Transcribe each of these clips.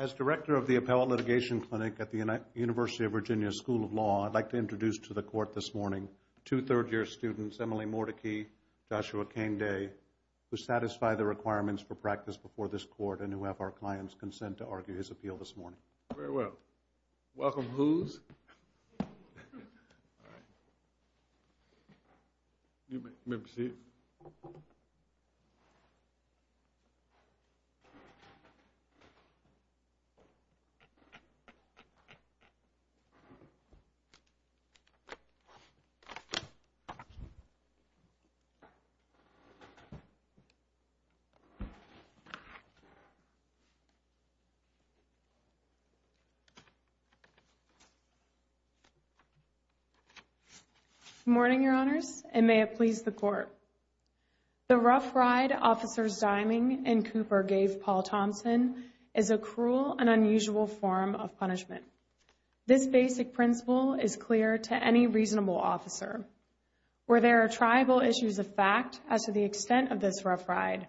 As Director of the Appellate Litigation Clinic at the University of Virginia School of Law, I'd like to introduce to the Court this morning two third-year students, Emily Mordecai and Joshua Kengde, who satisfy the requirements for practice before this Court and who have our client's consent to argue his appeal this morning. Very well. Welcome, Hoos. All right. You may be seated. Good morning, Your Honors, and may it please the Court. The rough ride officers Diming and Cooper gave Paul Thompson is a cruel and unusual form of punishment. This basic principle is clear to any reasonable officer. Where there are tribal issues of fact as to the extent of this rough ride,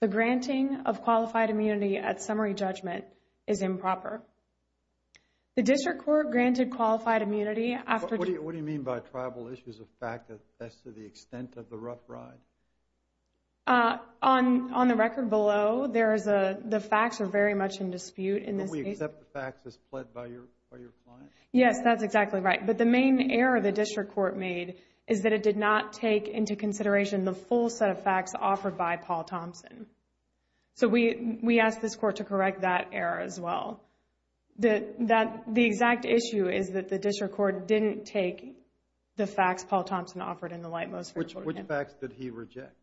the granting of qualified immunity at summary judgment is improper. The District Court granted qualified immunity after... What do you mean by tribal issues of fact as to the extent of the rough ride? On the record below, the facts are very much in dispute in this case. But we accept the facts as pled by your client? Yes, that's exactly right. But the main error the District Court made is that it did not take into consideration the full set of facts offered by Paul Thompson. So, we ask this Court to correct that error as well. The exact issue is that the District Court didn't take the facts Paul Thompson offered in the light most... Which facts did he reject?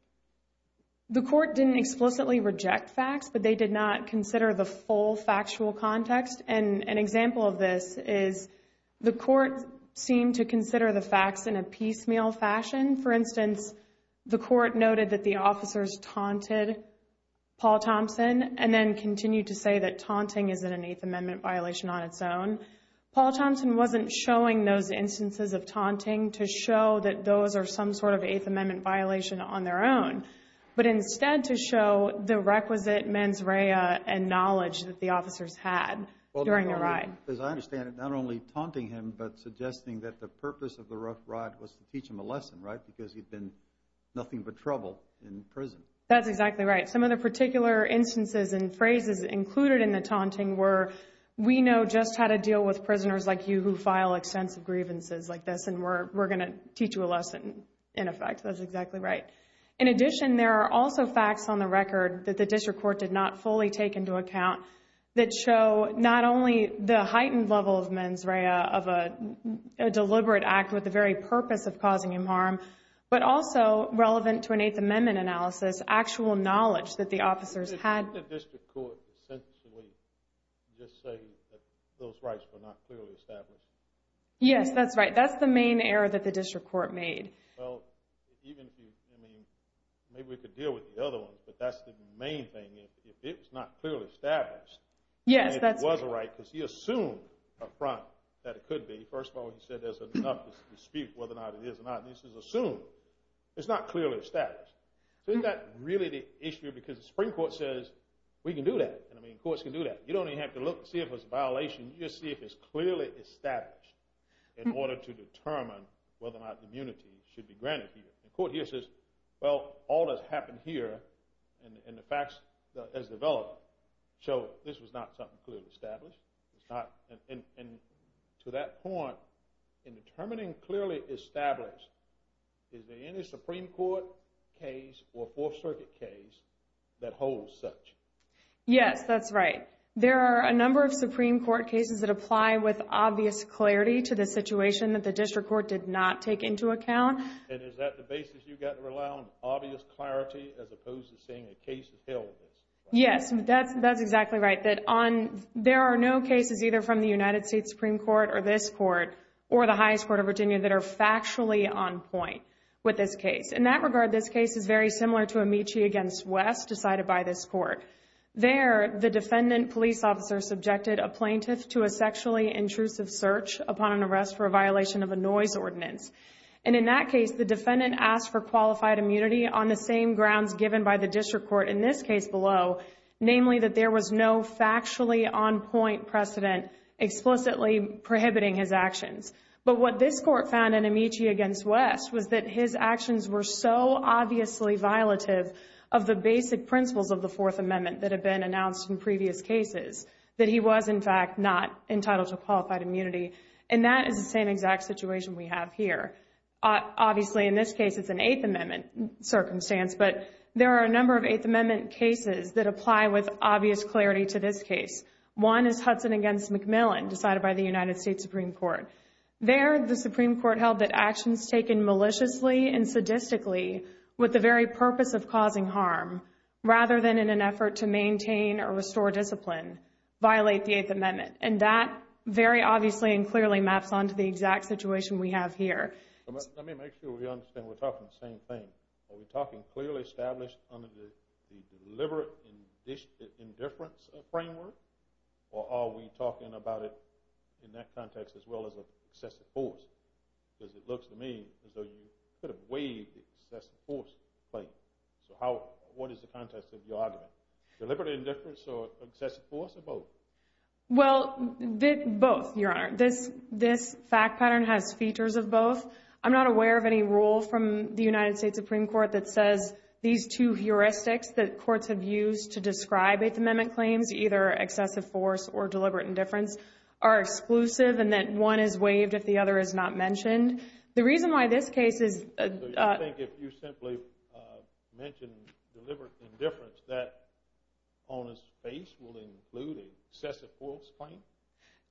The Court didn't explicitly reject facts, but they did not consider the full factual context. And an example of this is the Court seemed to consider the facts in a piecemeal fashion. For instance, the Court noted that the officers taunted Paul Thompson and then continued to say that taunting is an Eighth Amendment violation on its own. Paul Thompson wasn't showing those instances of taunting to show that those are some sort of Eighth Amendment violation on their own, but instead to show the requisite mens rea and knowledge that the officers had during the ride. As I understand it, not only taunting him, but suggesting that the purpose of the rough ride was to teach him a lesson, right, because he'd been nothing but trouble in prison. That's exactly right. Some of the particular instances and phrases included in the taunting were, we know just how to deal with prisoners like you who file extensive grievances like this, and we're going to teach you a lesson, in effect. That's exactly right. In addition, there are also facts on the record that the District Court did not fully take into account that show not only the heightened level of mens rea of a deliberate act with the very purpose of causing him harm, but also relevant to an Eighth Amendment analysis, actual knowledge that the officers had. Didn't the District Court essentially just say that those rights were not clearly established? Yes, that's right. That's the main error that the District Court made. Well, even if you, I mean, maybe we could deal with the other ones, but that's the main thing. If it was not clearly established, then it was a right because he assumed up front that it could be. First of all, he said there's enough to dispute whether or not it is or not. This is assumed. It's not clearly established. So isn't that really the issue because the Supreme Court says, we can do that. I mean, courts can do that. You don't even have to look to see if it's a violation. You just see if it's clearly established in order to determine whether or not immunity should be granted here. The court here says, well, all that's happened here and the facts as developed show this was not something clearly established. It's not. And to that point, in determining clearly established, is there any Supreme Court case or Fourth Circuit case that holds such? Yes, that's right. There are a number of Supreme Court cases that apply with obvious clarity to the situation that the District Court did not take into account. And is that the basis you've got to rely on, obvious clarity as opposed to saying a case has held this? Yes, that's exactly right. There are no cases either from the United States Supreme Court or this court or the highest court of Virginia that are factually on point with this case. In that regard, this case is very similar to Amici against West decided by this court. There, the defendant police officer subjected a plaintiff to a sexually intrusive search upon an arrest for a violation of a noise ordinance. And in that case, the defendant asked for qualified immunity on the same grounds given by the District Court in this case below, namely that there was no factually on point precedent explicitly prohibiting his actions. But what this court found in Amici against West was that his actions were so obviously violative of the basic principles of the Fourth Amendment that have been announced in previous cases, that he was in fact not entitled to qualified immunity. And that is the same exact situation we have here. Obviously, in this case, it's an Eighth Amendment circumstance, but there are a number of Eighth Amendment cases that apply with obvious clarity to this case. One is Hudson against McMillan decided by the United States Supreme Court. There, the Supreme Court held that actions taken maliciously and sadistically with the very purpose of causing harm, rather than in an effort to maintain or restore discipline, violate the Eighth Amendment. And that very obviously and clearly maps onto the exact situation we have here. Let me make sure we understand we're talking the same thing. Are we talking clearly established under the deliberate indifference framework? Or are we talking about it in that context as well as excessive force? Because it looks to me as though you could have waived the excessive force claim. So what is the context of your argument? Deliberate indifference or excessive force or both? Well, both, Your Honor. This fact pattern has features of both. I'm not aware of any rule from the United States Supreme Court that says these two heuristics that courts have used to describe Eighth Amendment claims, either excessive force or deliberate indifference, are exclusive and that one is waived if the other is not mentioned. The reason why this case is— I think if you simply mention deliberate indifference, that on its face will include an excessive force claim?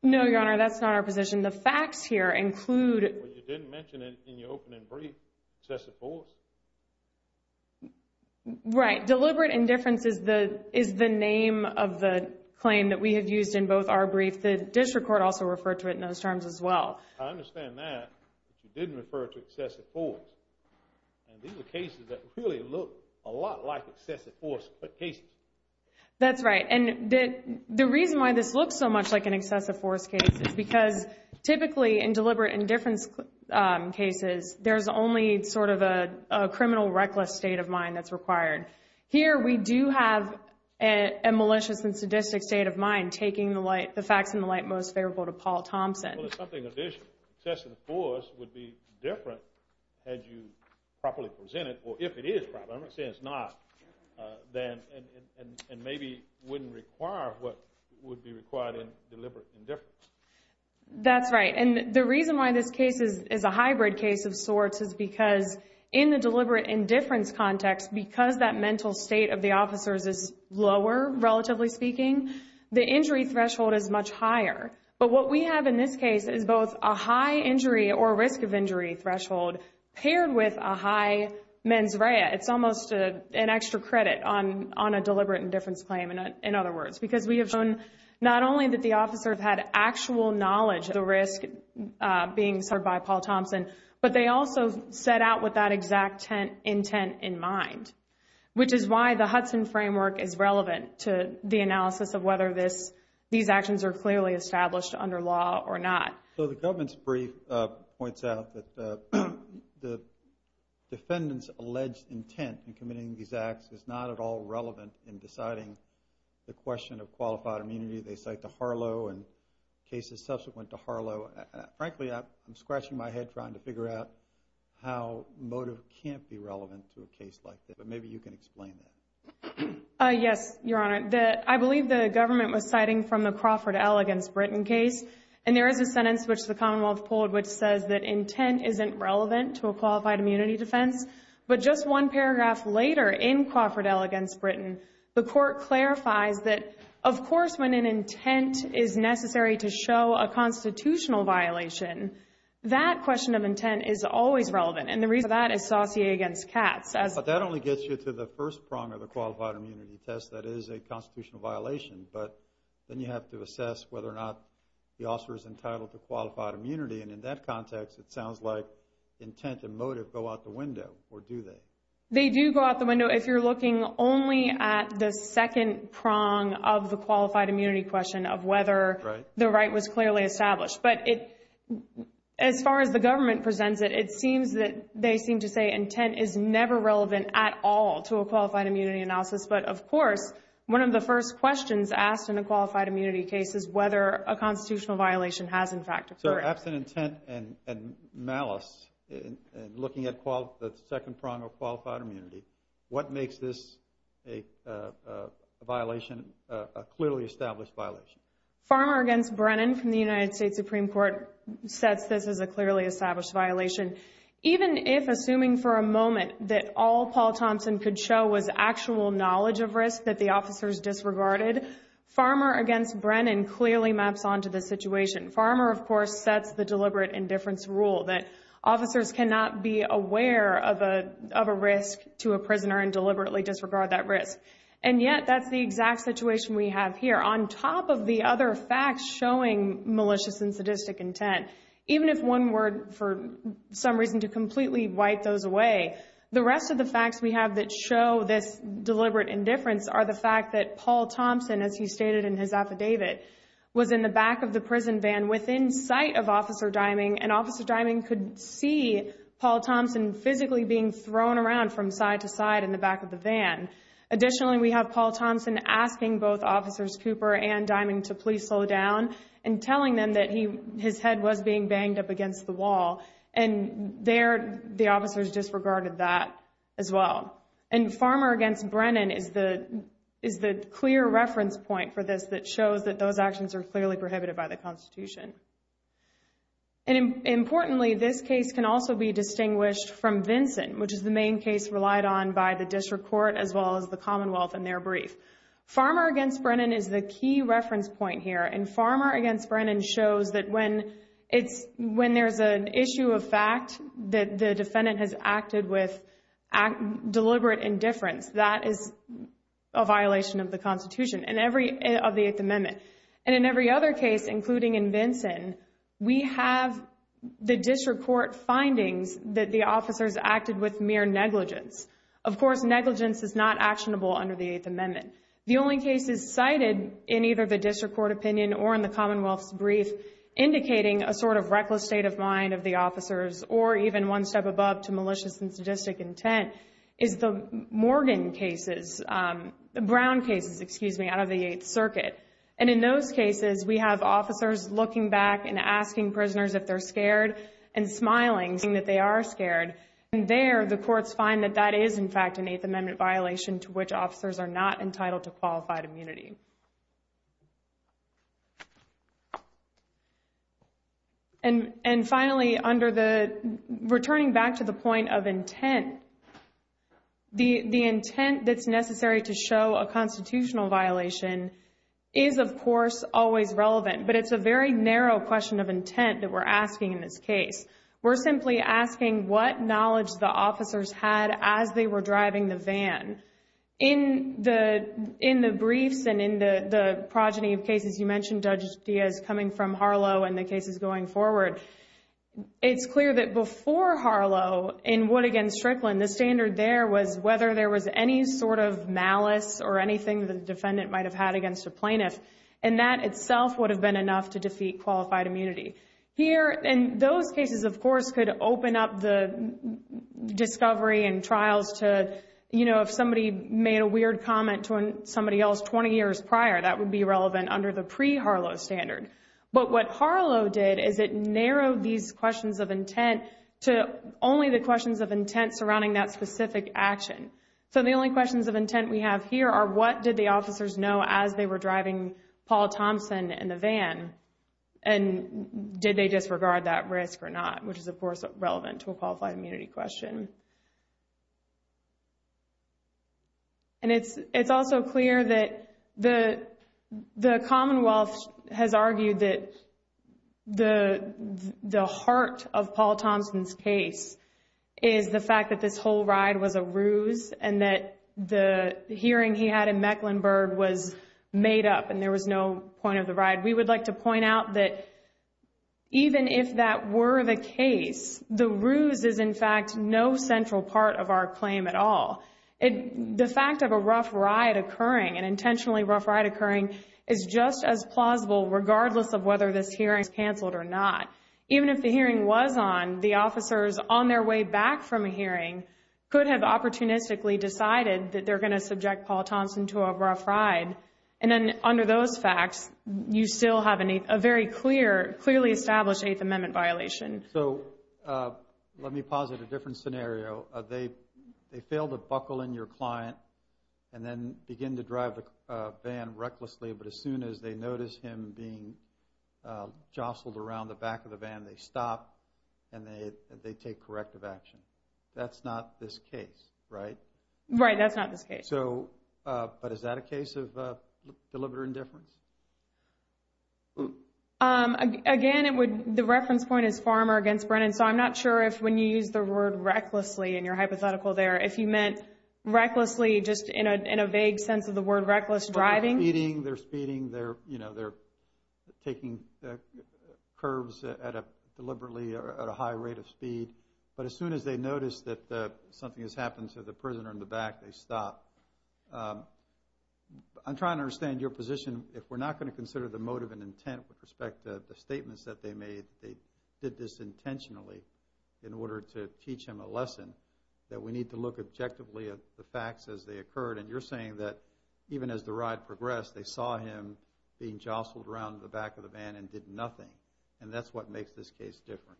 No, Your Honor, that's not our position. The facts here include— Well, you didn't mention it in your opening brief, excessive force. Right. Deliberate indifference is the name of the claim that we have used in both our briefs. The district court also referred to it in those terms as well. I understand that, but you didn't refer to excessive force. And these are cases that really look a lot like excessive force cases. That's right. And the reason why this looks so much like an excessive force case is because typically in deliberate indifference cases, there's only sort of a criminal reckless state of mind that's required. Here we do have a malicious and sadistic state of mind taking the facts in the light most favorable to Paul Thompson. Well, it's something additional. Excessive force would be different had you properly presented—or if it is properly presented, I'm not saying it's not—and maybe wouldn't require what would be required in deliberate indifference. That's right. And the reason why this case is a hybrid case of sorts is because in the deliberate indifference context, because that mental state of the officers is lower, relatively speaking, the injury threshold is much higher. But what we have in this case is both a high injury or risk of injury threshold paired with a high mens rea. It's almost an extra credit on a deliberate indifference claim, in other words, because we have shown not only that the officers had actual knowledge of the risk being served by Paul Thompson, but they also set out with that exact intent in mind, which is why the Hudson framework is relevant to the analysis of whether these actions are clearly established under law or not. So the government's brief points out that the defendant's alleged intent in committing these acts is not at all relevant in deciding the question of qualified immunity. They cite the Harlow and cases subsequent to Harlow. Frankly, I'm scratching my head trying to figure out how motive can't be relevant to a case like this. But maybe you can explain that. Yes, Your Honor. I believe the government was citing from the Crawford L against Britain case. And there is a sentence which the Commonwealth pulled which says that intent isn't relevant to a qualified immunity defense. But just one paragraph later in Crawford L against Britain, the court clarifies that, of course, when an intent is necessary to show a constitutional violation, that question of intent is always relevant. And the reason for that is Saussure against Katz. But that only gets you to the first prong of the qualified immunity test. That is a constitutional violation. But then you have to assess whether or not the officer is entitled to qualified immunity. And in that context, it sounds like intent and motive go out the window. Or do they? They do go out the window if you're looking only at the second prong of the qualified immunity question of whether the right was clearly established. But as far as the government presents it, it seems that they seem to say intent is never relevant at all to a qualified immunity analysis. But of course, one of the first questions asked in a qualified immunity case is whether a constitutional violation has, in fact, occurred. So absent intent and malice, looking at the second prong of qualified immunity, what makes this a violation, a clearly established violation? Farmer against Brennan from the United States Supreme Court sets this as a clearly established violation. Even if, assuming for a moment, that all Paul Thompson could show was actual knowledge of risk that the officers disregarded, Farmer against Brennan clearly maps onto the situation. Farmer, of course, sets the deliberate indifference rule that officers cannot be aware of a risk to a prisoner and deliberately disregard that risk. And yet, that's the exact situation we have here. On top of the other facts showing malicious and sadistic intent, even if one were, for some reason, to completely wipe those away, the rest of the facts we have that show this deliberate indifference are the fact that Paul Thompson, as he stated in his affidavit, was in the back of the prison van within sight of Officer Dyming, and Officer Dyming could see Paul Thompson physically being thrown around from side to side in the back of the van. Additionally, we have Paul Thompson asking both Officers Cooper and Dyming to please slow down and telling them that his head was being banged up against the wall. And there, the officers disregarded that as well. And Farmer against Brennan is the clear reference point for this that shows that those actions are clearly prohibited by the Constitution. And importantly, this case can also be distinguished from Vinson, which is the main case relied on by the District Court as well as the Commonwealth in their brief. Farmer against Brennan is the key reference point here, and Farmer against Brennan shows that when there's an issue of fact that the defendant has acted with deliberate indifference, that is a violation of the Constitution, of the Eighth Amendment. And in every other case, including in Vinson, we have the District Court findings that the officers acted with mere negligence. Of course, negligence is not actionable under the Eighth Amendment. The only cases cited in either the District Court opinion or in the Commonwealth's brief indicating a sort of reckless state of mind of the officers, or even one step above to malicious and sadistic intent, is the Morgan cases, Brown cases, excuse me, out of the Eighth Circuit. And in those cases, we have officers looking back and asking prisoners if they're scared and smiling, saying that they are scared. And there, the courts find that that is, in fact, an Eighth Amendment violation to which officers are not entitled to qualified immunity. And finally, returning back to the point of intent, the intent that's necessary to show a constitutional violation is, of course, always relevant. But it's a very narrow question of intent that we're asking in this case. We're simply asking what knowledge the officers had as they were driving the van. In the briefs and in the progeny of cases you mentioned, Judge Diaz coming from Harlow and the cases going forward, it's clear that before Harlow, in Wood against Strickland, the standard there was whether there was any sort of malice or anything the defendant might have had against a plaintiff. And that itself would have been enough to defeat qualified immunity. Here, in those cases, of course, could open up the discovery and trials to, you know, if somebody made a weird comment to somebody else 20 years prior, that would be relevant under the pre-Harlow standard. But what Harlow did is it narrowed these questions of intent to only the questions of intent surrounding that specific action. So the only questions of intent we have here are what did the officers know as they were driving Paul Thompson in the van? And did they disregard that risk or not? Which is, of course, relevant to a qualified immunity question. And it's also clear that the Commonwealth has argued that the heart of Paul Thompson's case is the fact that this whole ride was a ruse and that the hearing he had in Mecklenburg was made up and there was no point of the ride. We would like to point out that even if that were the case, the ruse is, in fact, no such point. It's not a central part of our claim at all. The fact of a rough ride occurring, an intentionally rough ride occurring, is just as plausible regardless of whether this hearing is canceled or not. Even if the hearing was on, the officers on their way back from a hearing could have opportunistically decided that they're going to subject Paul Thompson to a rough ride. And then under those facts, you still have a very clearly established Eighth Amendment violation. So, let me posit a different scenario. They fail to buckle in your client and then begin to drive the van recklessly. But as soon as they notice him being jostled around the back of the van, they stop and they take corrective action. That's not this case, right? Right, that's not this case. But is that a case of deliberate indifference? Again, the reference point is Farmer against Brennan. So, I'm not sure if when you use the word recklessly in your hypothetical there, if you meant recklessly just in a vague sense of the word reckless driving. They're speeding, they're taking curves deliberately at a high rate of speed. But as soon as they notice that something has happened to the prisoner in the back, they stop. I'm trying to understand your position. If we're not going to consider the motive and intent with respect to the statements that they made that they did this intentionally in order to teach him a lesson that we need to look objectively at the facts as they occurred. And you're saying that even as the ride progressed, they saw him being jostled around the back of the van and did nothing. And that's what makes this case different.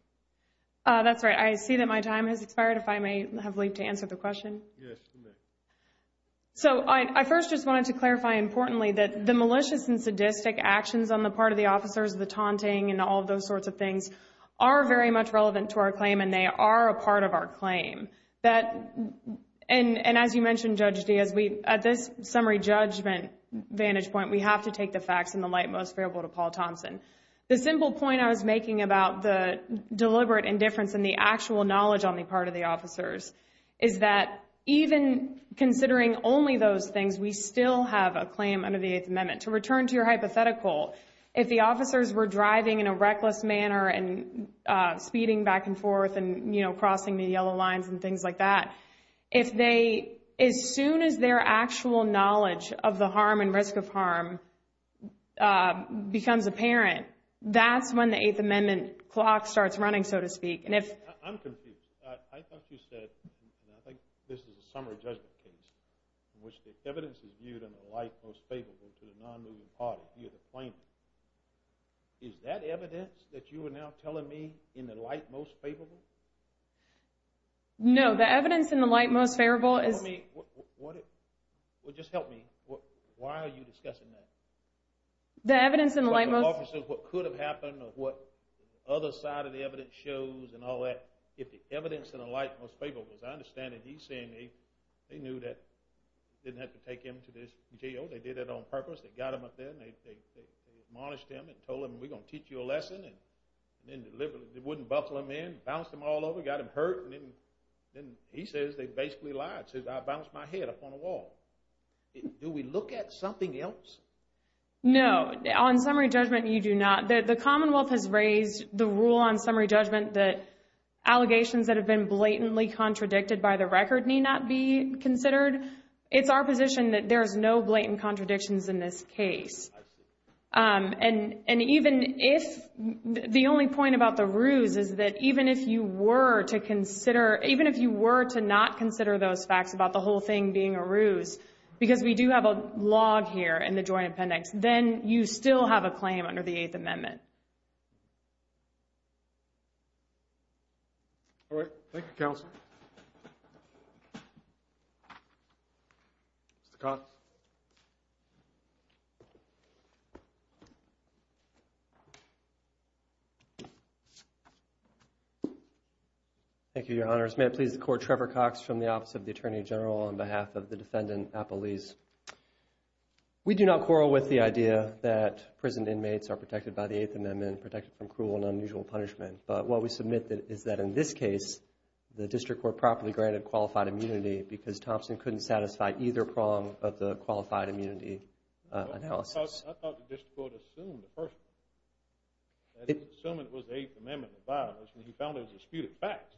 That's right. I see that my time has expired. If I may have leave to answer the question. So, I first just wanted to clarify importantly that the malicious and sadistic actions on the part of the officers, the taunting and all of those sorts of things are very much relevant to our claim and they are a part of our claim. And as you mentioned, Judge Diaz, at this summary judgment vantage point, we have to take the facts in the light most favorable to Paul Thompson. The simple point I was making about the deliberate indifference and the actual knowledge on the part of the officers is that even considering only those things, we still have a claim under the Eighth Amendment. To return to your hypothetical, if the officers were driving in a reckless manner and speeding back and forth and crossing the yellow lines and things like that, as soon as their actual knowledge of the harm and risk of harm becomes apparent, that's when the Eighth Amendment clock starts running, so to speak. I'm confused. I thought you said, and I think this is a summary judgment case in which the evidence is viewed in the light most favorable to the non-moving party, you're the claimant. Is that evidence that you are now telling me in the light most favorable? No, the evidence in the light most favorable is... Well, just help me. Why are you discussing that? The evidence in the light most... What could have happened or what other side of the evidence shows and all that, if the evidence in the light most favorable as I understand it, he's saying they knew that they didn't have to take him to this jail. They did it on purpose. They got him up there. They admonished him and told him, we're going to teach you a lesson. They wouldn't buckle him in. Bounced him all over. Got him hurt. He says they basically lied. Says, I bounced my head up on a wall. Do we look at something else? No. On summary judgment, you do not. The Commonwealth has raised the rule on summary judgment that allegations that have been blatantly contradicted by the record need not be considered. It's our position that there's no blatant contradictions in this case. I see. The only point about the ruse is that even if you were to not consider those facts about the whole thing being a ruse because we do have a log here in the joint appendix, then you still have a claim under the 8th Amendment. All right. Thank you, Counsel. Mr. Cox. Thank you, Your Honors. May it please the Court, Trevor Cox from the Office of the Attorney General on behalf of the Defendant, Appelese. We do not quarrel with the idea that prison inmates are protected by the 8th Amendment, protected from cruel and unusual punishment. But what we submit is that in this case, the District Court properly granted qualified immunity because Thompson couldn't satisfy either prong of the qualified immunity analysis. I thought the District Court assumed the first one. Assuming it was the 8th Amendment and violence. And he found those disputed facts.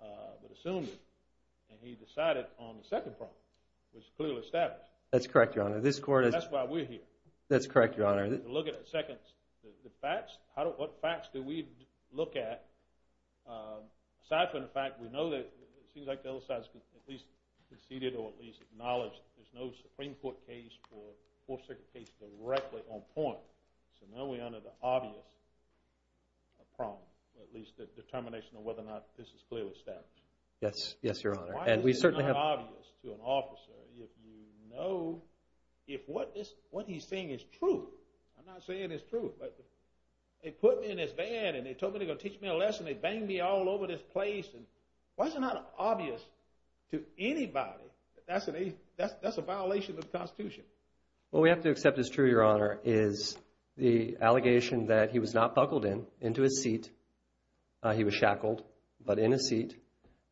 But assumed it. And he decided on the second prong, which is clearly established. That's correct, Your Honor. If you look at the facts, what facts do we look at? Aside from the fact that we know that it seems like the other side has at least conceded or at least acknowledged there's no Supreme Court case or Fourth Circuit case directly on point. So now we're under the obvious prong. At least the determination of whether or not this is clearly established. Yes, Your Honor. Why is it not obvious to an officer if what he's saying is true? I'm not saying it's true, but they put me in this van and they told me they were going to teach me a lesson. They banged me all over this place. Why is it not obvious to anybody that that's a violation of the Constitution? What we have to accept as true, Your Honor, is the allegation that he was not buckled into his seat. He was shackled, but in his seat.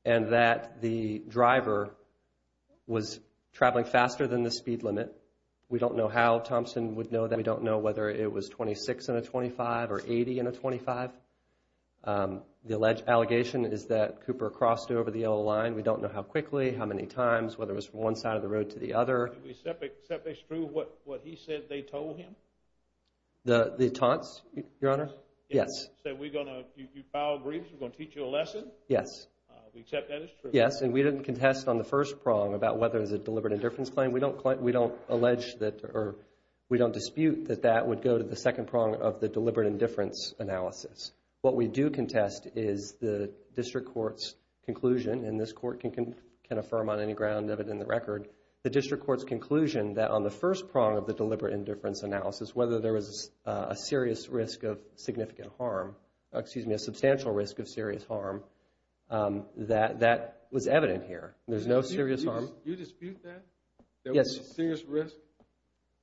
And that the driver was traveling faster than the speed limit. We don't know how Thompson would know that. We don't know whether it was 26 in a 25 or 80 in a 25. The alleged allegation is that Cooper crossed over the yellow line. We don't know how quickly, how many times, whether it was from one side of the road to the other. Do we accept as true what he said they told him? The taunts, Your Honor? Yes. You file a brief, we're going to teach you a lesson? Yes. And we didn't contest on the first prong about whether it was a deliberate indifference claim. We don't dispute that that would go to the second prong of the deliberate indifference analysis. What we do contest is the district court's conclusion, and this court can affirm on any ground evident in the record, the district court's conclusion that on the first prong of the deliberate indifference analysis whether there was a serious risk of significant harm, excuse me, a substantial risk of serious harm that was evident here. There's no serious harm. Yes.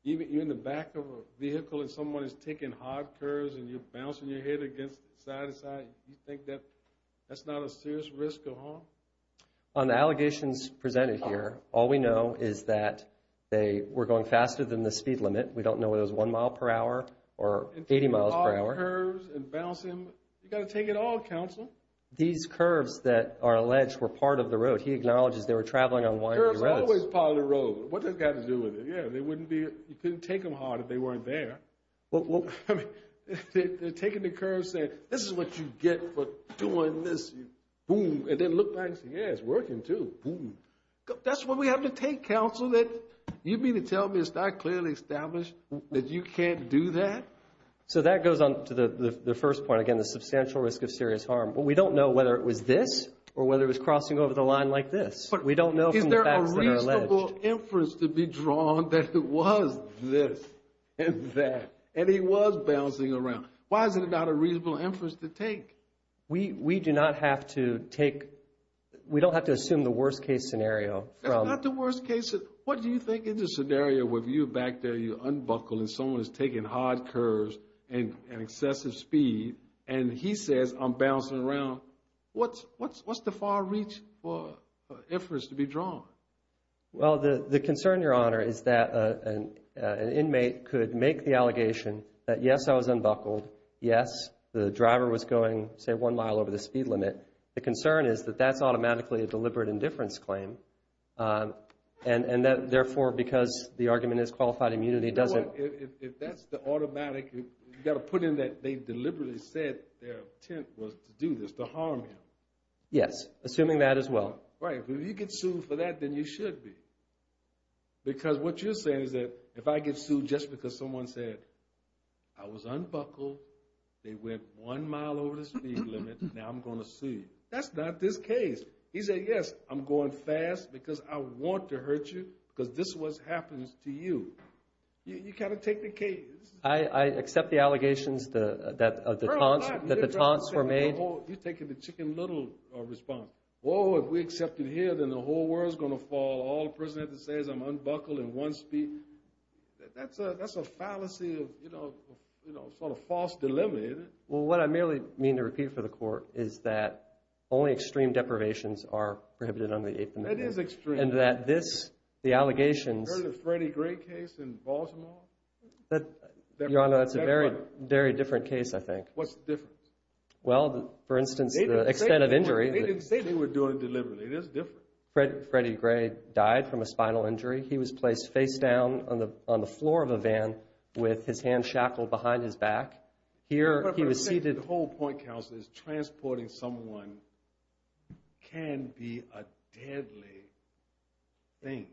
You're in the back of a vehicle and someone is taking hard curves and you're bouncing your head against side to side, do you think that's not a serious risk of harm? On the allegations presented here, all we know is that they were going faster than the speed limit. We don't know if it was one mile per hour or 80 miles per hour. You've got to take it all, counsel. These curves that are alleged were part of the road. He acknowledges they were traveling on winding roads. Curves are always part of the road. What does that have to do with it? You couldn't take them hard if they weren't there. They're taking the curves and saying, this is what you get for doing this. And then look back and say, yeah, it's working too. That's what we have to take, counsel. You mean to tell me it's not clearly established that you can't do that? That goes on to the first point, the substantial risk of serious harm. We don't know whether it was this or whether it was crossing over the line like this. Is there a reasonable inference to be drawn that it was this and that and he was bouncing around? Why is it not a reasonable inference to take? We don't have to assume the worst case scenario. It's not the worst case. What do you think is the scenario where you're back there, you're unbuckled and someone is taking hard curves at excessive speed and he says, I'm bouncing around. What's the far reach for inference to be drawn? The concern, Your Honor, is that an inmate could make the allegation that yes, I was unbuckled. Yes, the driver was going, say, one mile over the speed limit. The concern is that that's automatically a deliberate indifference claim and therefore, because the argument is qualified immunity, it doesn't... If that's the automatic, you've got to put in that they deliberately said their intent was to do this, to harm him. Yes, assuming that as well. If you get sued for that, then you should be. Because what you're saying is that if I get sued just because someone said I was unbuckled, they went one mile over the speed limit, now I'm going to sue you. That's not this case. He said, yes, I'm going fast because I want to hurt you, because this is what happens to you. You've got to take the case. I accept the allegations that the taunts were made. You're taking the chicken little response. Whoa, if we accept it here, then the whole world is going to fall. All the person has to say is I'm unbuckled at one speed. That's a fallacy of false delimity. What I merely mean to repeat for the court is that only extreme deprivations are prohibited under the 8th Amendment. It is extreme. You heard of the Freddie Gray case in Baltimore? Your Honor, that's a very different case, I think. What's the difference? They didn't say they were doing it deliberately. Freddie Gray died from a spinal injury. He was placed face down on the floor of a van with his hands shackled behind his back. The whole point, counsel, is transporting someone can be a deadly thing.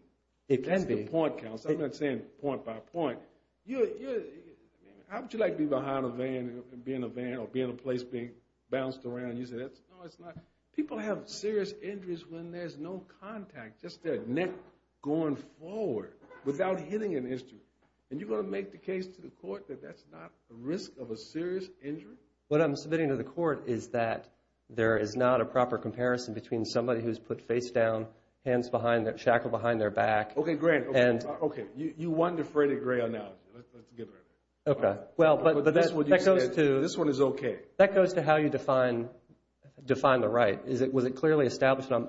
I'm not saying point by point. How would you like to be behind a van or be in a place being bounced around? People have serious injuries when there's no contact, just their neck going forward without hitting an instrument. Are you going to make the case to the court that that's not a risk of a serious injury? What I'm submitting to the court is that there is not a proper comparison between somebody who's put face down, hands shackled behind their back. You won the Freddie Gray analogy. This one is okay. That goes to how you define the right.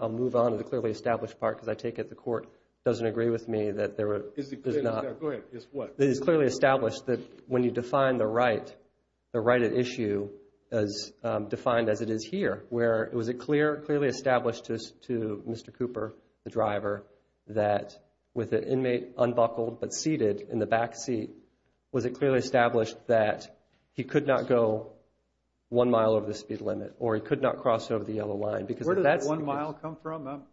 I'll move on to the clearly established part because I take it the court doesn't agree with me. It is clearly established that when you define the right at issue as defined as it is here, it was clearly established to Mr. Cooper, the driver, that with the inmate unbuckled but seated in the back seat, it was clearly established that he could not go one mile over the speed limit or he could not cross over the yellow line. Where did that one mile come from?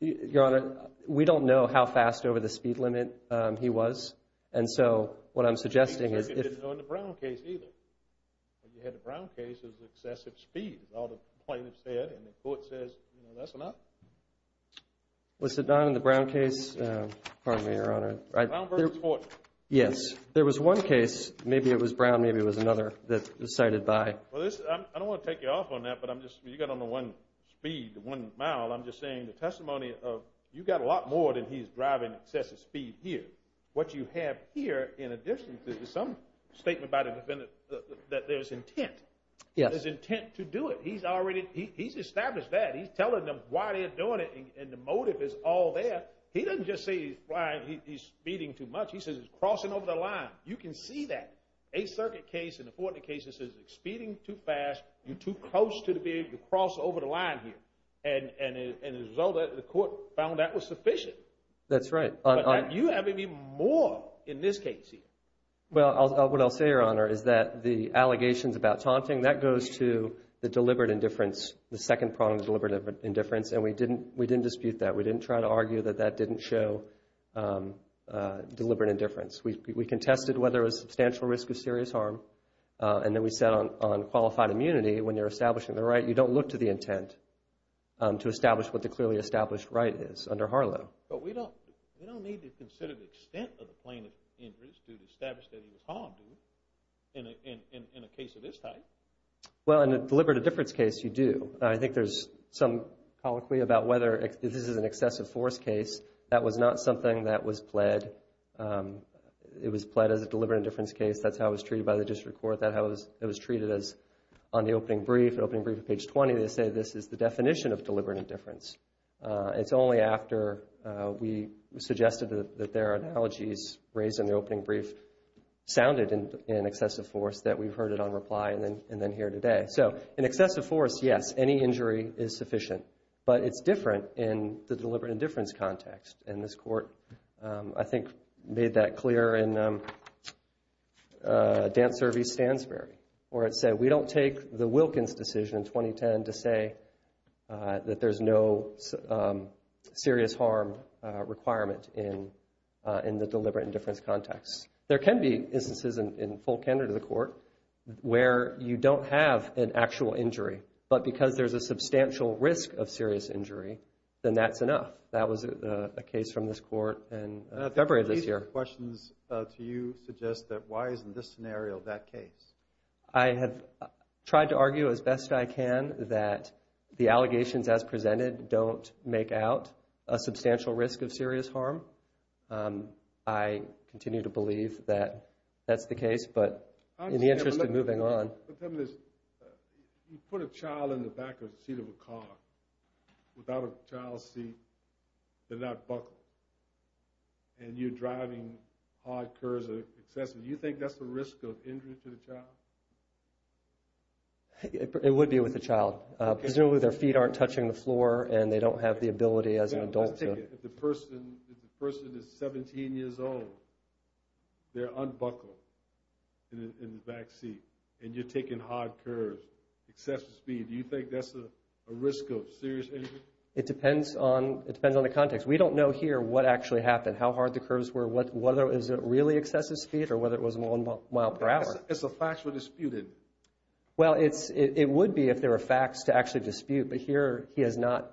Your Honor, we don't know how fast over the speed limit he was and so what I'm suggesting is You didn't know in the Brown case either. You had the Brown case as excessive speed. All the plaintiffs said and the court says that's enough. Was it not in the Brown case? Brown v. Fortune. Yes. There was one case. Maybe it was Brown. Maybe it was another that was cited by... I don't want to take you off on that but you got on the one speed, the one mile. I'm just saying the testimony of you got a lot more than he's driving excessive speed here. What you have here in addition to some statement by the defendant that there's intent. There's intent to do it. He's established that. He's telling them why they're doing it and the motive is all there. He doesn't just say he's speeding too much. He says he's crossing over the line. You can see that. Eighth Circuit case and the Fortnite case says he's speeding too fast. You're too close to be able to cross over the line here. And as a result the court found that was sufficient. That's right. But you have even more in this case here. What I'll say, Your Honor, is that the allegations about taunting that goes to the deliberate indifference. The second prong of deliberate indifference and we didn't dispute that. We didn't try to argue that that didn't show deliberate indifference. We contested whether there was substantial risk of serious harm. And then we said on qualified immunity when you're establishing the right you don't look to the intent to establish what the clearly established right is under Harlow. But we don't need to consider the extent of the plaintiff's injuries to establish that he was harmed in a case of this type. Well, in a deliberate indifference case you do. I think there's some colloquy about whether this is an excessive force case. That was not something that was pled. It was pled as a deliberate indifference case. That's how it was treated by the district court. That's how it was treated on the opening brief. They say this is the definition of deliberate indifference. It's only after we suggested that their analogies raised in the opening brief sounded in excessive force that we've heard it on reply and then here today. So, in excessive force, yes, any injury is sufficient. But it's different in the deliberate indifference context. And this court, I think, made that clear in Dance Service Stansbury where it said we don't take the Wilkins decision in 2010 to say that there's no serious harm requirement in the court. Where you don't have an actual injury. But because there's a substantial risk of serious injury, then that's enough. That was a case from this court in February of this year. I have tried to argue as best I can that the allegations as presented don't make out a substantial risk of serious harm. I continue to believe that that's the case. But in the interest of moving on... You put a child in the back of the seat of a car without a child's seat, they're not buckled. And you're driving hard, cursive, excessive. Do you think that's the risk of injury to the child? It would be with the child. Presumably their feet aren't touching the floor and they don't have the person is 17 years old. They're unbuckled in the back seat. And you're taking hard curves, excessive speed. Do you think that's a risk of serious injury? It depends on the context. We don't know here what actually happened, how hard the curves were, whether it was really excessive speed or whether it was one mile per hour. It's a factual dispute, isn't it? Well, it would be if there were facts to actually dispute. But here, he has not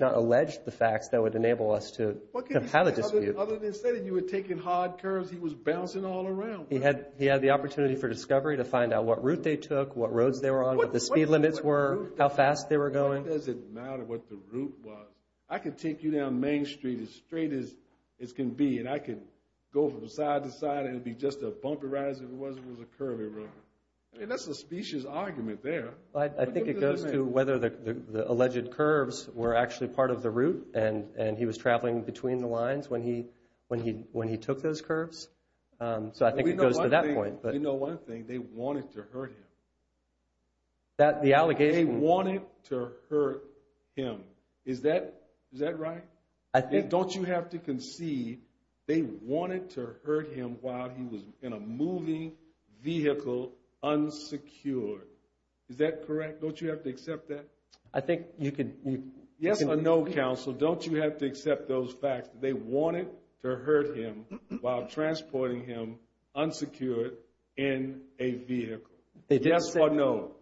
alleged the facts that would enable us to have a dispute. Other than you were taking hard curves, he was bouncing all around. He had the opportunity for discovery to find out what route they took, what roads they were on, what the speed limits were, how fast they were going. Why does it matter what the route was? I could take you down Main Street as straight as it can be and I could go from side to side and it would be just a bumper rise if it was a curvy road. That's a suspicious argument there. I think it goes to whether the alleged curves were actually part of the route and he was traveling between the lines when he took those curves. So I think it goes to that point. You know one thing, they wanted to hurt him. They wanted to hurt him. Is that right? Don't you have to concede they wanted to hurt him while he was in a moving vehicle unsecured? Is that correct? Don't you have to accept that? Yes or no, counsel, don't you have to accept those facts that they wanted to hurt him while transporting him unsecured in a vehicle? Yes or no?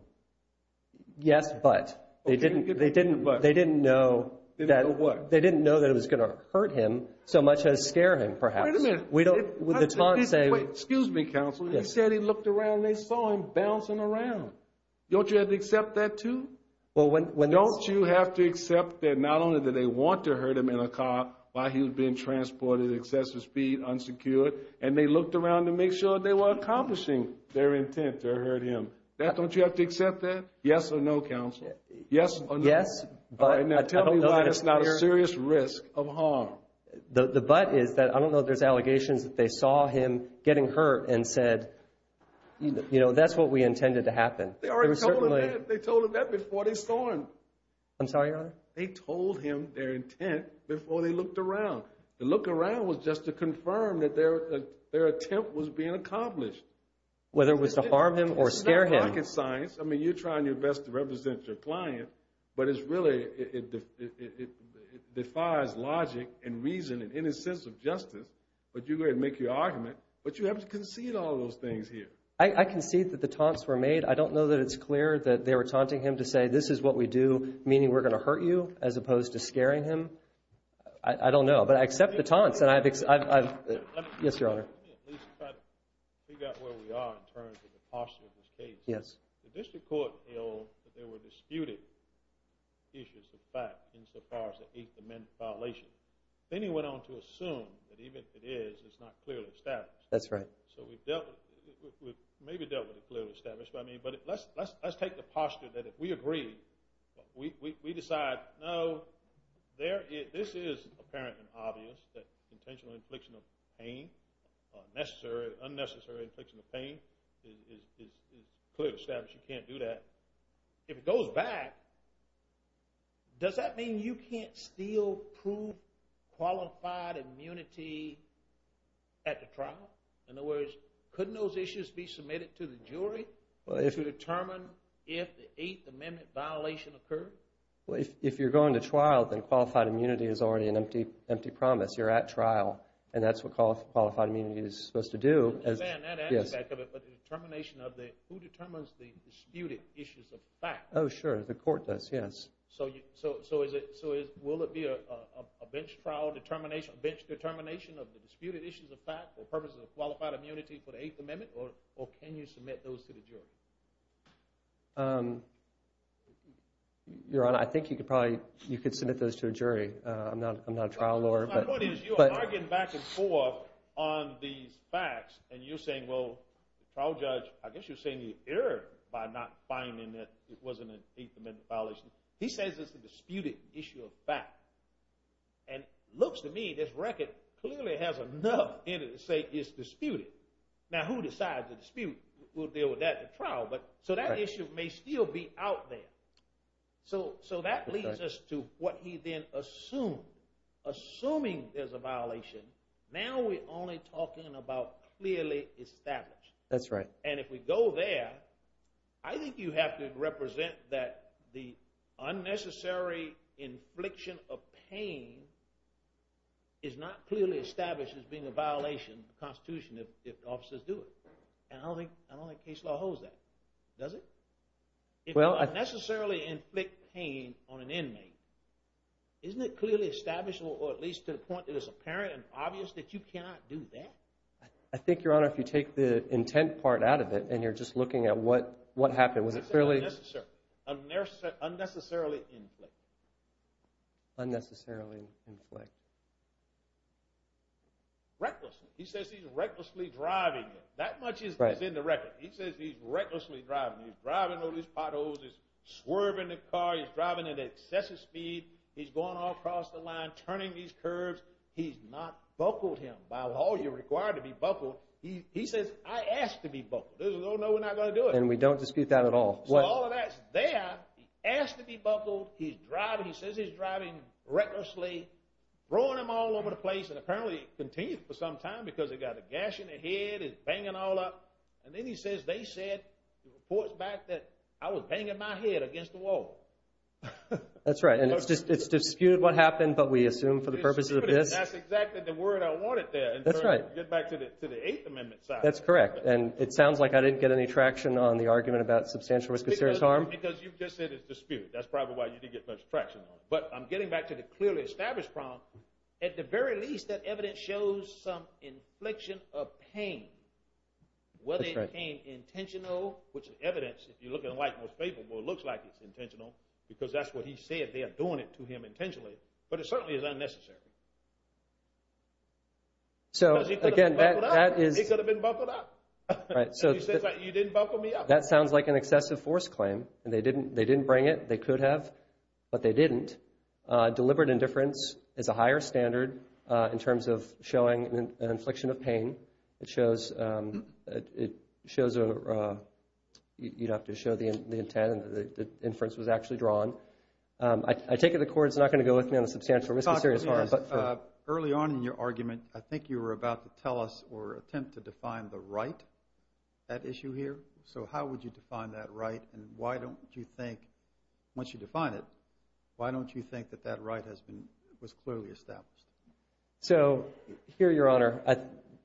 Yes, but. They didn't know that it was going to hurt him so much as scare him perhaps. Excuse me, counsel. He said he looked around and they saw him bouncing around. Don't you have to accept that too? Don't you have to accept that not only did they want to hurt him in a car while he was being transported at excessive speed unsecured and they looked around to make sure they were accomplishing their intent to hurt him. Don't you have to accept that? Yes or no, counsel? Tell me why it's not a serious risk of harm. The but is that I don't know if there's allegations that they saw him getting hurt and said that's what we intended to happen. They told him that before they saw him. They told him their intent before they looked around. The look around was just to confirm that their attempt was being accomplished. Whether it was to harm him or scare him. I mean, you're trying your best to represent your client but it's really it defies logic and reason and any sense of justice but you're going to make your argument but you have to concede all those things here. I concede that the taunts were made. I don't know that it's clear that they were taunting him to say this is what we do meaning we're going to hurt you as opposed to scaring him. I don't know, but I accept the taunts. Let me at least try to figure out where we are in terms of the posture of this case. The district court held that there were disputed issues of fact insofar as the 8th Amendment violation. Then he went on to assume that even if it is it's not clearly established. We've maybe dealt with it clearly established but let's take the posture that if we agree we decide no, this is apparent and obvious that intentional infliction of pain or unnecessary infliction of pain is clear to establish you can't do that. If it goes back does that mean you can't still prove qualified immunity at the trial? In other words, couldn't those issues be submitted to the jury to determine if the 8th Amendment violation occurred? If you're going to trial then qualified immunity is already an empty promise. You're at trial and that's what qualified immunity is supposed to do. Who determines the disputed issues of fact? Oh sure, the court does, yes. So will it be a bench trial determination of the disputed issues of fact for purposes of qualified immunity for the 8th Amendment or can you submit those to the jury? Your Honor, I think you could probably submit those to a jury. I'm not a trial lawyer. You're arguing back and forth on these facts and you're saying, well, the trial judge I guess you're saying he erred by not finding that it wasn't an 8th Amendment violation. He says it's a disputed issue of fact and it looks to me this record clearly has enough evidence to say it's disputed. Now who decides the dispute? We'll deal with that at trial. So that issue may still be out there. So that leads us to what he then assumed. Assuming there's a violation now we're only talking about clearly established. And if we go there I think you have to represent that the unnecessary infliction of pain is not clearly established as being a violation of the Constitution if officers do it. I don't think case law holds that. Does it? If you unnecessarily inflict pain on an inmate isn't it clearly established or at least to the point that it's apparent and obvious that you cannot do that? I think, Your Honor, if you take the intent part out of it and you're just looking at what happened. Unnecessarily inflict. Unnecessarily inflict. Recklessly. He says he's recklessly driving him. That much is in the record. He says he's recklessly driving him. He's driving on his potholes. He's swerving the car. He's driving at excessive speed. He's going all across the line. Turning these curves. He's not buckled him. By all you're required to be buckled. He says, I asked to be buckled. And we don't dispute that at all. He asked to be buckled. He says he's driving recklessly. Throwing him all over the place. And apparently it continues for some time because he's got a gash in the head. He's banging all up. And then he says, they said, reports back that I was banging my head against the wall. It's disputed what happened but we assume for the purposes of this. That's exactly the word I wanted there. To get back to the 8th Amendment side. That's correct. And it sounds like I didn't get any traction on the argument about substantial risk of serious harm. Because you just said it's disputed. That's probably why you didn't get much traction on it. But I'm getting back to the clearly established problem. At the very least that evidence shows some infliction of pain. Whether it came intentional. Which the evidence, if you look at the White House paper, looks like it's intentional. Because that's what he said. They are doing it to him intentionally. But it certainly is unnecessary. Because he could have been buckled up. He could have been buckled up. You didn't buckle me up. That sounds like an excessive force claim. They didn't bring it. They could have. But they didn't. Deliberate indifference is a higher standard in terms of showing an infliction of pain. It shows you'd have to show the intent and the inference was actually drawn. I take it the Court is not going to go with me on the substantial risk of serious harm. Early on in your argument, I think you were about to tell us or attempt to define the right. That issue here. So how would you define that right? And why don't you think, once you define it, why don't you think that that right was clearly established? So, here Your Honor,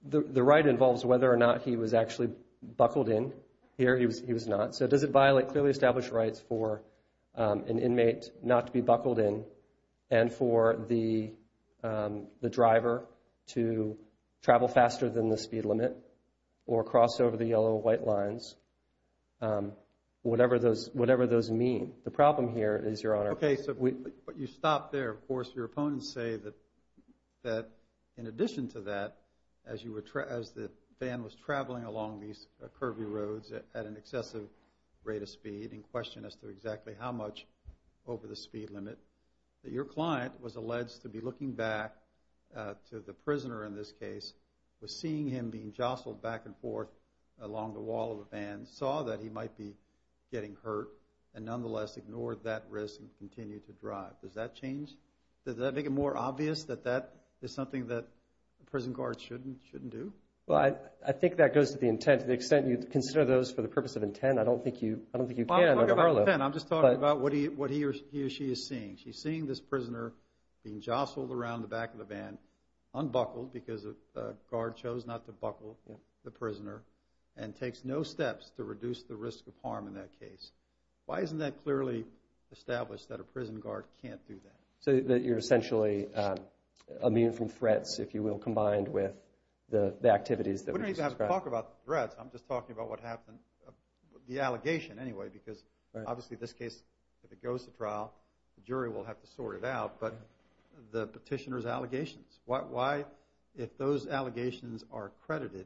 the right involves whether or not he was actually buckled in. Here, he was not. So does it violate clearly established rights for an inmate not to be buckled in and for the driver to travel faster than the speed limit or cross over the yellow white lines? Whatever those mean. The problem here is, Your Honor. You stop there. Of course, your opponents say that in addition to that, as the van was traveling along these curvy roads at an excessive rate of speed in question as to exactly how much over the speed limit that your client was alleged to be looking back to the prisoner in this case was seeing him being jostled back and forth along the wall of the van, saw that he might be getting hurt and nonetheless ignored that risk and continued to drive. Does that change? Does that make it more obvious that that is something that a prison guard shouldn't do? Well, I think that goes to the extent you consider those for the purpose of intent. I don't think you can. I'm just talking about what he or she is seeing. She's seeing this prisoner being jostled around the back of the van unbuckled because a guard chose not to buckle the prisoner and takes no steps to reduce the risk of harm in that case. Why isn't that clearly established that a prison guard can't do that? So that you're essentially immune from threats, if you will, combined with the activities that we just described. I'm not even going to talk about the threats. I'm just talking about what happened, the allegation anyway because obviously this case, if it goes to trial, the jury will have to sort it out. But the petitioner's allegations, why, if those allegations are credited,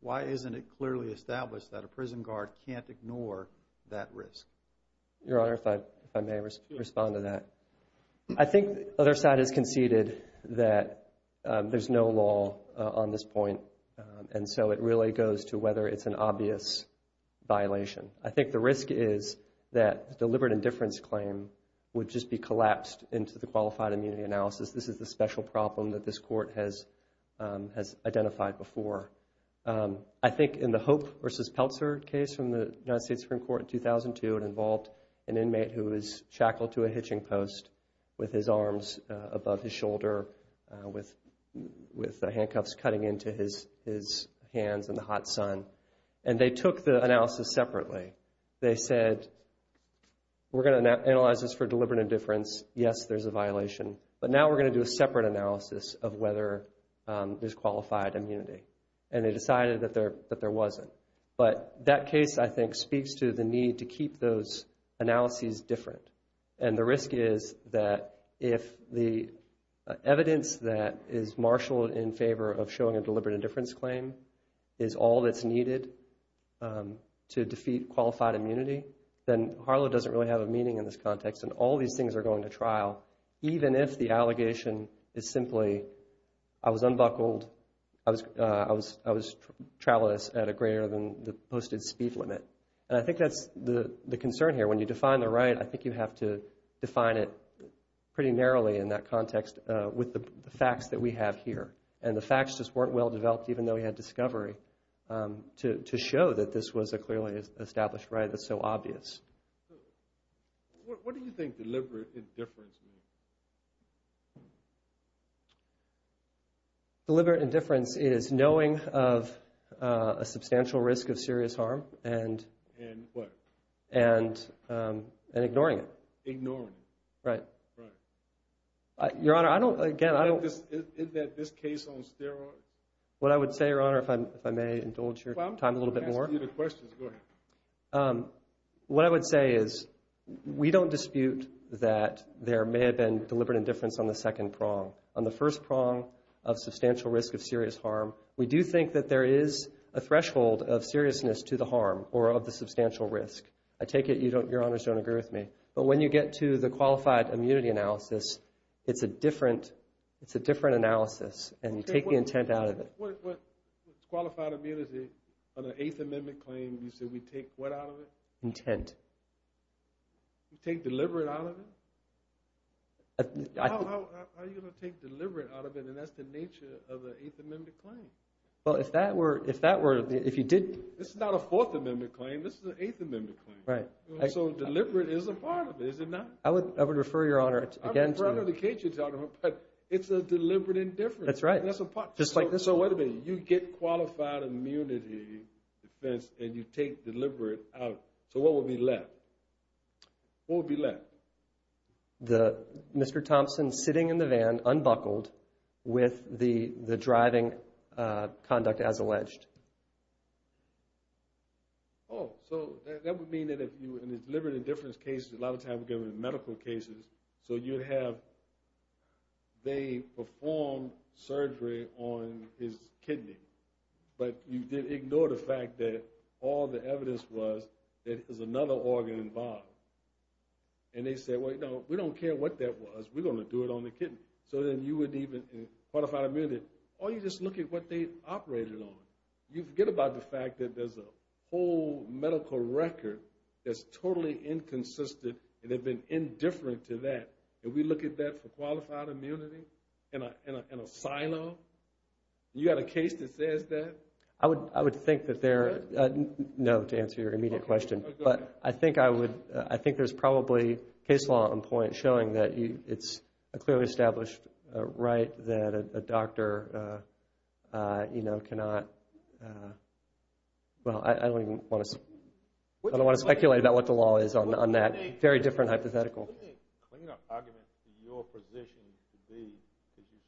why isn't it clearly established that a prison guard can't ignore that risk? Your Honor, if I may respond to that. I think the other side has conceded that there's no law on this point and so it really goes to whether it's an obvious violation. I think the risk is that the deliberate indifference claim would just be collapsed into the qualified immunity analysis. This is a special problem that this Court has identified before. I think in the Hope v. Peltzer case from the United States Supreme Court in 2002, it involved an inmate who was shackled to a hitching post with his arms above his shoulder with handcuffs cutting into his hands in the hot sun. And they took the analysis separately. They said, we're going to analyze this for deliberate indifference. Yes, there's a violation. But now we're going to do a separate analysis of whether there's qualified immunity. And they decided that there wasn't. But that case, I think, speaks to the need to keep those analyses different. And the risk is that if the evidence that is marshaled in favor of showing a deliberate indifference claim is all that's needed to defeat qualified immunity, then Harlow doesn't really have a meaning in this context. And all these things are going to trial, even if the allegation is simply, I was unbuckled, I was traveling at a greater than the posted speed limit. And I think that's the concern here. When you define the right, I think you have to define it pretty narrowly in that context with the facts that we have here. And the facts just weren't well developed even though we had discovery to show that this was a clearly established right that's so obvious. What do you think deliberate indifference means? Deliberate indifference is knowing of a substantial risk of serious harm. And what? And ignoring it. Right. Your Honor, I don't... What I would say, Your Honor, if I may indulge your time a little bit more. What I would say is we don't dispute that there may have been deliberate indifference on the second prong. On the first prong of substantial risk of serious harm, we do think that there is a threshold of seriousness to the harm or of the substantial risk. I take it Your Honors don't agree with me. But when you get to the qualified immunity analysis, it's a different analysis and you take the intent out of it. Qualified immunity on an Eighth Amendment claim, you say we take what out of it? Intent. You take deliberate out of it? How are you going to take deliberate out of it when that's the nature of an Eighth Amendment claim? Well, if that were... This is not a Fourth Amendment claim, this is an Eighth Amendment claim. So deliberate is a part of it, is it not? I would refer Your Honor again to... It's a deliberate indifference. So wait a minute, you get qualified immunity defense and you take deliberate out. So what would be left? What would be left? Mr. Thompson sitting in the van, unbuckled, with the driving conduct as alleged. Oh, so that would mean that if you... Deliberate indifference cases, a lot of times we get them in medical cases. So you have... They performed surgery on his kidney. But you did ignore the fact that all the evidence was that it was another organ involved. And they said, we don't care what that was, we're going to do it on the kidney. So then you would even... Or you just look at what they operated on. You forget about the fact that there's a whole medical record that's totally inconsistent and they've been indifferent to that. And we look at that for qualified immunity? In a silo? You got a case that says that? I would think that there... No, to answer your immediate question. But I think there's probably case law on point showing that it's a clearly established right that a doctor cannot... Well, I don't even want to... I don't want to speculate about what the law is on that. Very different hypothetical. What do you think the clean-up argument for your position would be? Because you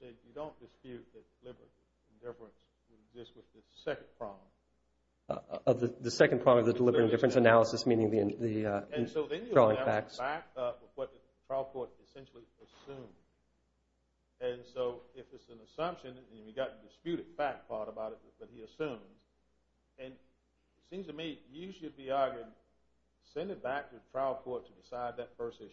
say you don't dispute that deliberate indifference would exist with the second problem. The second problem of the deliberate indifference analysis meaning the drawing facts. Back up what the trial court essentially assumed. And so if it's an assumption, and you've got the disputed fact part about it that he assumes, and it seems to me you should be arguing send it back to the trial court to decide that first issue.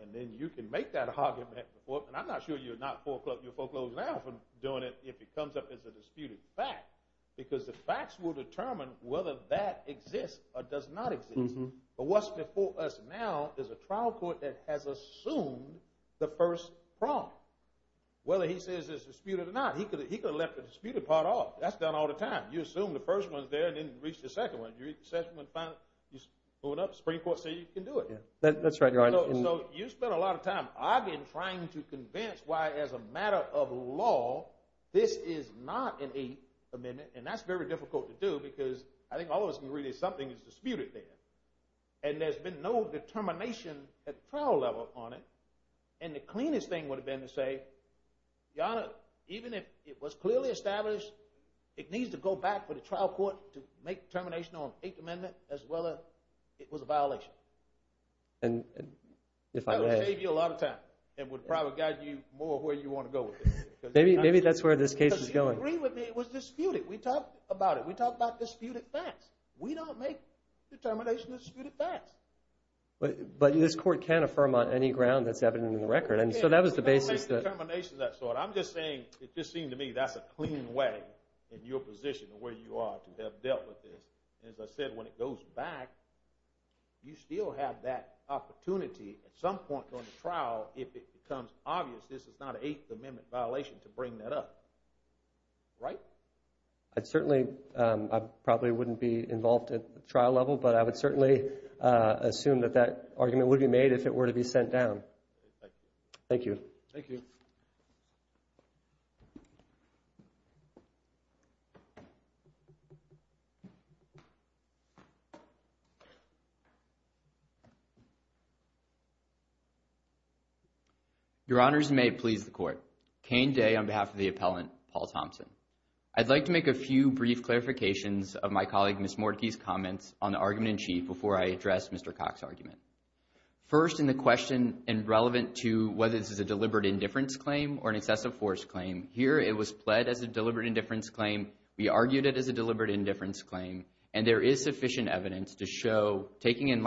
And then you can make that argument. And I'm not sure you're foreclosing now from doing it if it comes up as a disputed fact. Because the facts will determine whether that exists or does not exist. But what's before us now is a trial court that has assumed the first problem. Whether he says it's disputed or not. He could have left the disputed part off. That's done all the time. You assume the first one's there and didn't reach the second one. You reach the second one and find it. The Supreme Court says you can do it. I've been trying to convince why as a matter of law this is not an 8th amendment. And that's very difficult to do because I think all of us can agree that something is disputed there. And there's been no determination at the trial level on it. And the cleanest thing would have been to say even if it was clearly established it needs to go back to the trial court to make a determination on an 8th amendment as to whether it was a violation. That would save you a lot of time. It would probably guide you more where you want to go with it. Maybe that's where this case is going. It was disputed. We talked about disputed facts. We don't make determinations that are disputed facts. But this court can't affirm on any ground that's evident in the record. I'm just saying that's a clean way in your position where you are to have dealt with this. As I said, when it goes back you still have that opportunity at some point on the trial if it becomes obvious this is not an 8th amendment violation to bring that up. Right? I probably wouldn't be involved at the trial level but I would certainly assume that argument would be made if it were to be sent down. Thank you. Your Honors, and may it please the Court. Kane Day on behalf of the appellant, Paul Thompson. I'd like to make a few brief clarifications of my colleague Ms. Mordecai's comments on the argument in chief before I address Mr. Cox's argument. First, in the question relevant to whether this is a deliberate indifference claim or an excessive force claim, here it was pled as a deliberate indifference claim. We argued it as a deliberate indifference claim and there is sufficient evidence to show taking in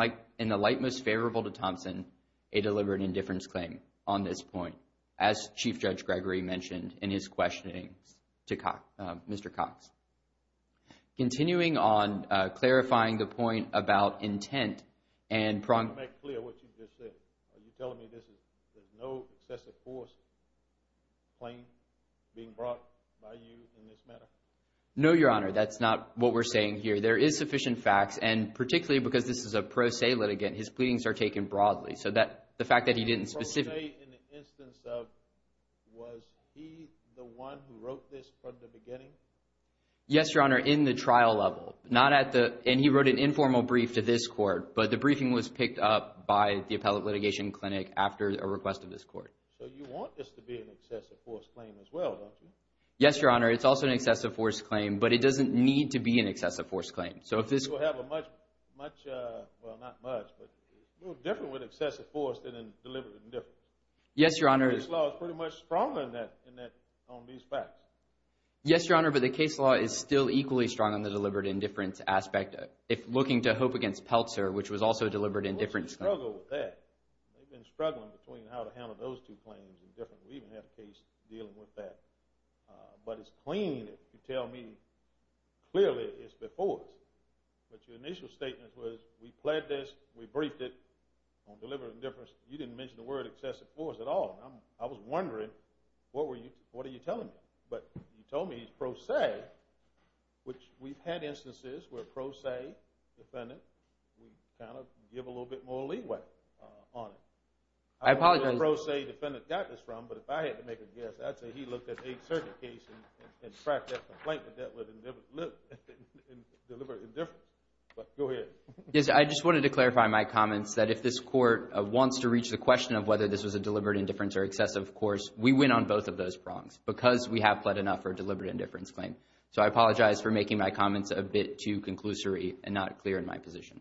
the light most favorable to Thompson a deliberate indifference claim on this point as Chief Judge Gregory mentioned in his questioning to Mr. Cox. Continuing on clarifying the point about intent I want to make clear what you just said. Are you telling me there is no excessive force claim being brought by you in this matter? No, Your Honor. That's not what we're saying here. There is sufficient facts and particularly because this is a pro se litigant his pleadings are taken broadly. Pro se in the instance of was he the one who wrote this from the beginning? Yes, Your Honor. In the trial level. And he wrote an informal brief to this Court but the briefing was picked up by the Appellate Litigation Clinic after a request of this Court. So you want this to be an excessive force claim as well, don't you? Yes, Your Honor. It's also an excessive force claim but it doesn't need to be an excessive force claim. It's a little different with excessive force than deliberate indifference. The case law is pretty much stronger on these facts. Yes, Your Honor, but the case law is still equally strong on the deliberate indifference aspect looking to Hope v. Peltzer which was also a deliberate indifference claim. They've been struggling between how to handle those two claims. We even had a case dealing with that. But it's clean if you tell me clearly it's before us. But your initial statement was we pled this, we briefed it on deliberate indifference. You didn't mention the word excessive force at all. I was wondering what are you telling me? But you told me he's pro se which we've had instances where pro se defendant we kind of give a little bit more leeway on it. I apologize. I wouldn't say pro se defendant got this wrong but if I had to make a guess, I'd say he looked at a certain case and tracked that complaint with deliberate indifference. But go ahead. I just wanted to clarify my comments that if this court wants to reach the question of whether this was a deliberate indifference or excessive force we win on both of those prongs because we have pled enough for a deliberate indifference claim. So I apologize for making my comments a bit too conclusory and not clear in my position.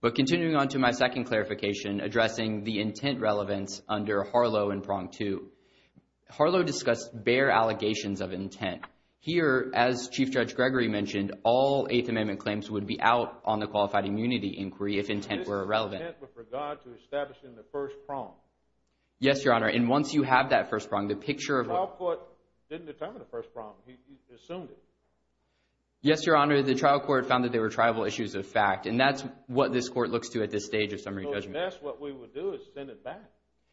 But continuing on to my second clarification addressing the intent relevance under Harlow and prong two. Harlow discussed bare allegations of intent. Here, as Chief Judge Gregory mentioned, all Eighth Amendment claims would be out on the qualified immunity inquiry if intent were relevant. This is intent with regard to establishing the first prong. Yes, Your Honor. And once you have that first prong, the picture of The trial court didn't determine the first prong. He assumed it. Yes, Your Honor. The trial court found that they were tribal issues of fact and that's what this court looks to at this stage of summary judgment. So unless what we would do is send it back.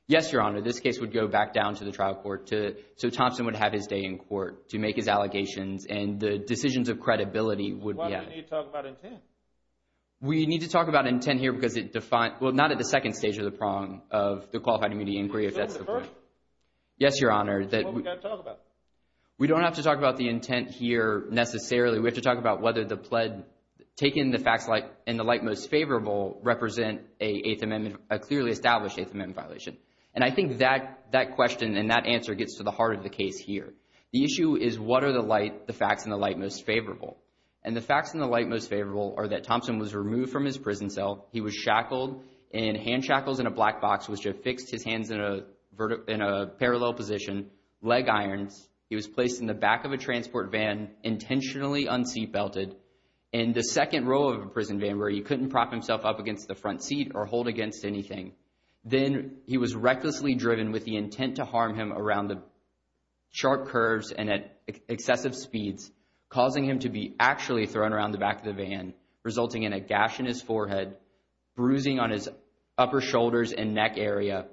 Yes, Your Honor. This case would go back down to the trial court so Thompson would have his day in court to make his allegations and the decisions of credibility would be added. Why didn't you talk about intent? We need to talk about intent here because it defines well, not at the second stage of the prong of the qualified immunity inquiry if that's the point. We don't have to talk about the intent here necessarily. We have to talk about whether the pled taken the facts in the light most favorable represent a clearly established Eighth Amendment violation. And I think that question and that answer gets to the heart of the case here. The issue is what are the facts in the light most favorable? And the facts in the light most favorable are that Thompson was removed from his prison cell. He was shackled in hand shackles in a black box which affixed his hands in a parallel position. Leg irons. He was placed in the back of a transport van, intentionally unseat belted in the second row of a prison van where he couldn't prop himself up against the front seat or hold against anything. Then he was recklessly driven with the intent to harm him around the sharp curves and at excessive speeds, causing him to be actually thrown around the back of the van, resulting in a gash in his forehead, bruising on his upper shoulders and neck area.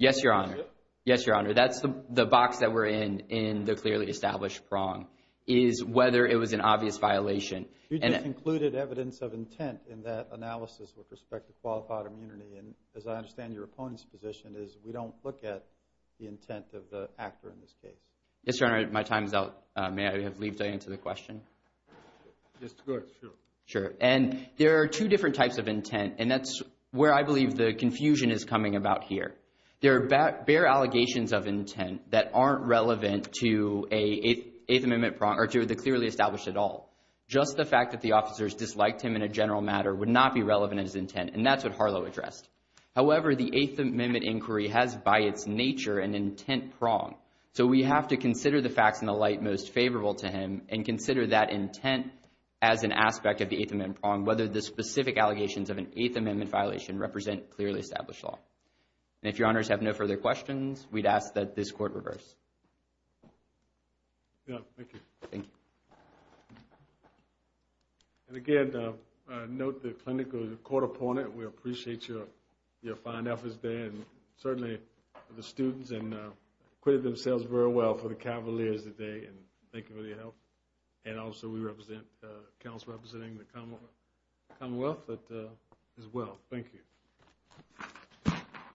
Yes, Your Honor. That's the box that we're in, in the clearly established prong is whether it was an obvious violation. You just included evidence of intent in that analysis with respect to qualified immunity and as I understand your opponent's position is we don't look at the intent of the actor in this case. Yes, Your Honor. My time is out. May I have leave to answer the question? Yes, go ahead. Sure. And there are two different types of intent and that's where I believe the confusion is coming about here. There are bare allegations of intent that aren't relevant to the clearly established at all. Just the fact that the officers disliked him in a general matter would not be relevant as intent and that's what Harlow addressed. However, the Eighth Amendment inquiry has by its nature an intent prong so we have to consider the facts in the light most favorable to him and consider that intent as an aspect of the Eighth Amendment prong whether the specific allegations of an Eighth Amendment violation represent clearly established law. And if Your Honors have no further questions, we'd ask that this Court reverse. Thank you. And again, note the clinical court opponent. We appreciate your fine efforts there and certainly the students and acquitted themselves very well for the cavaliers today and thank you for your help. And also we represent, the council representing the Commonwealth as well. Thank you.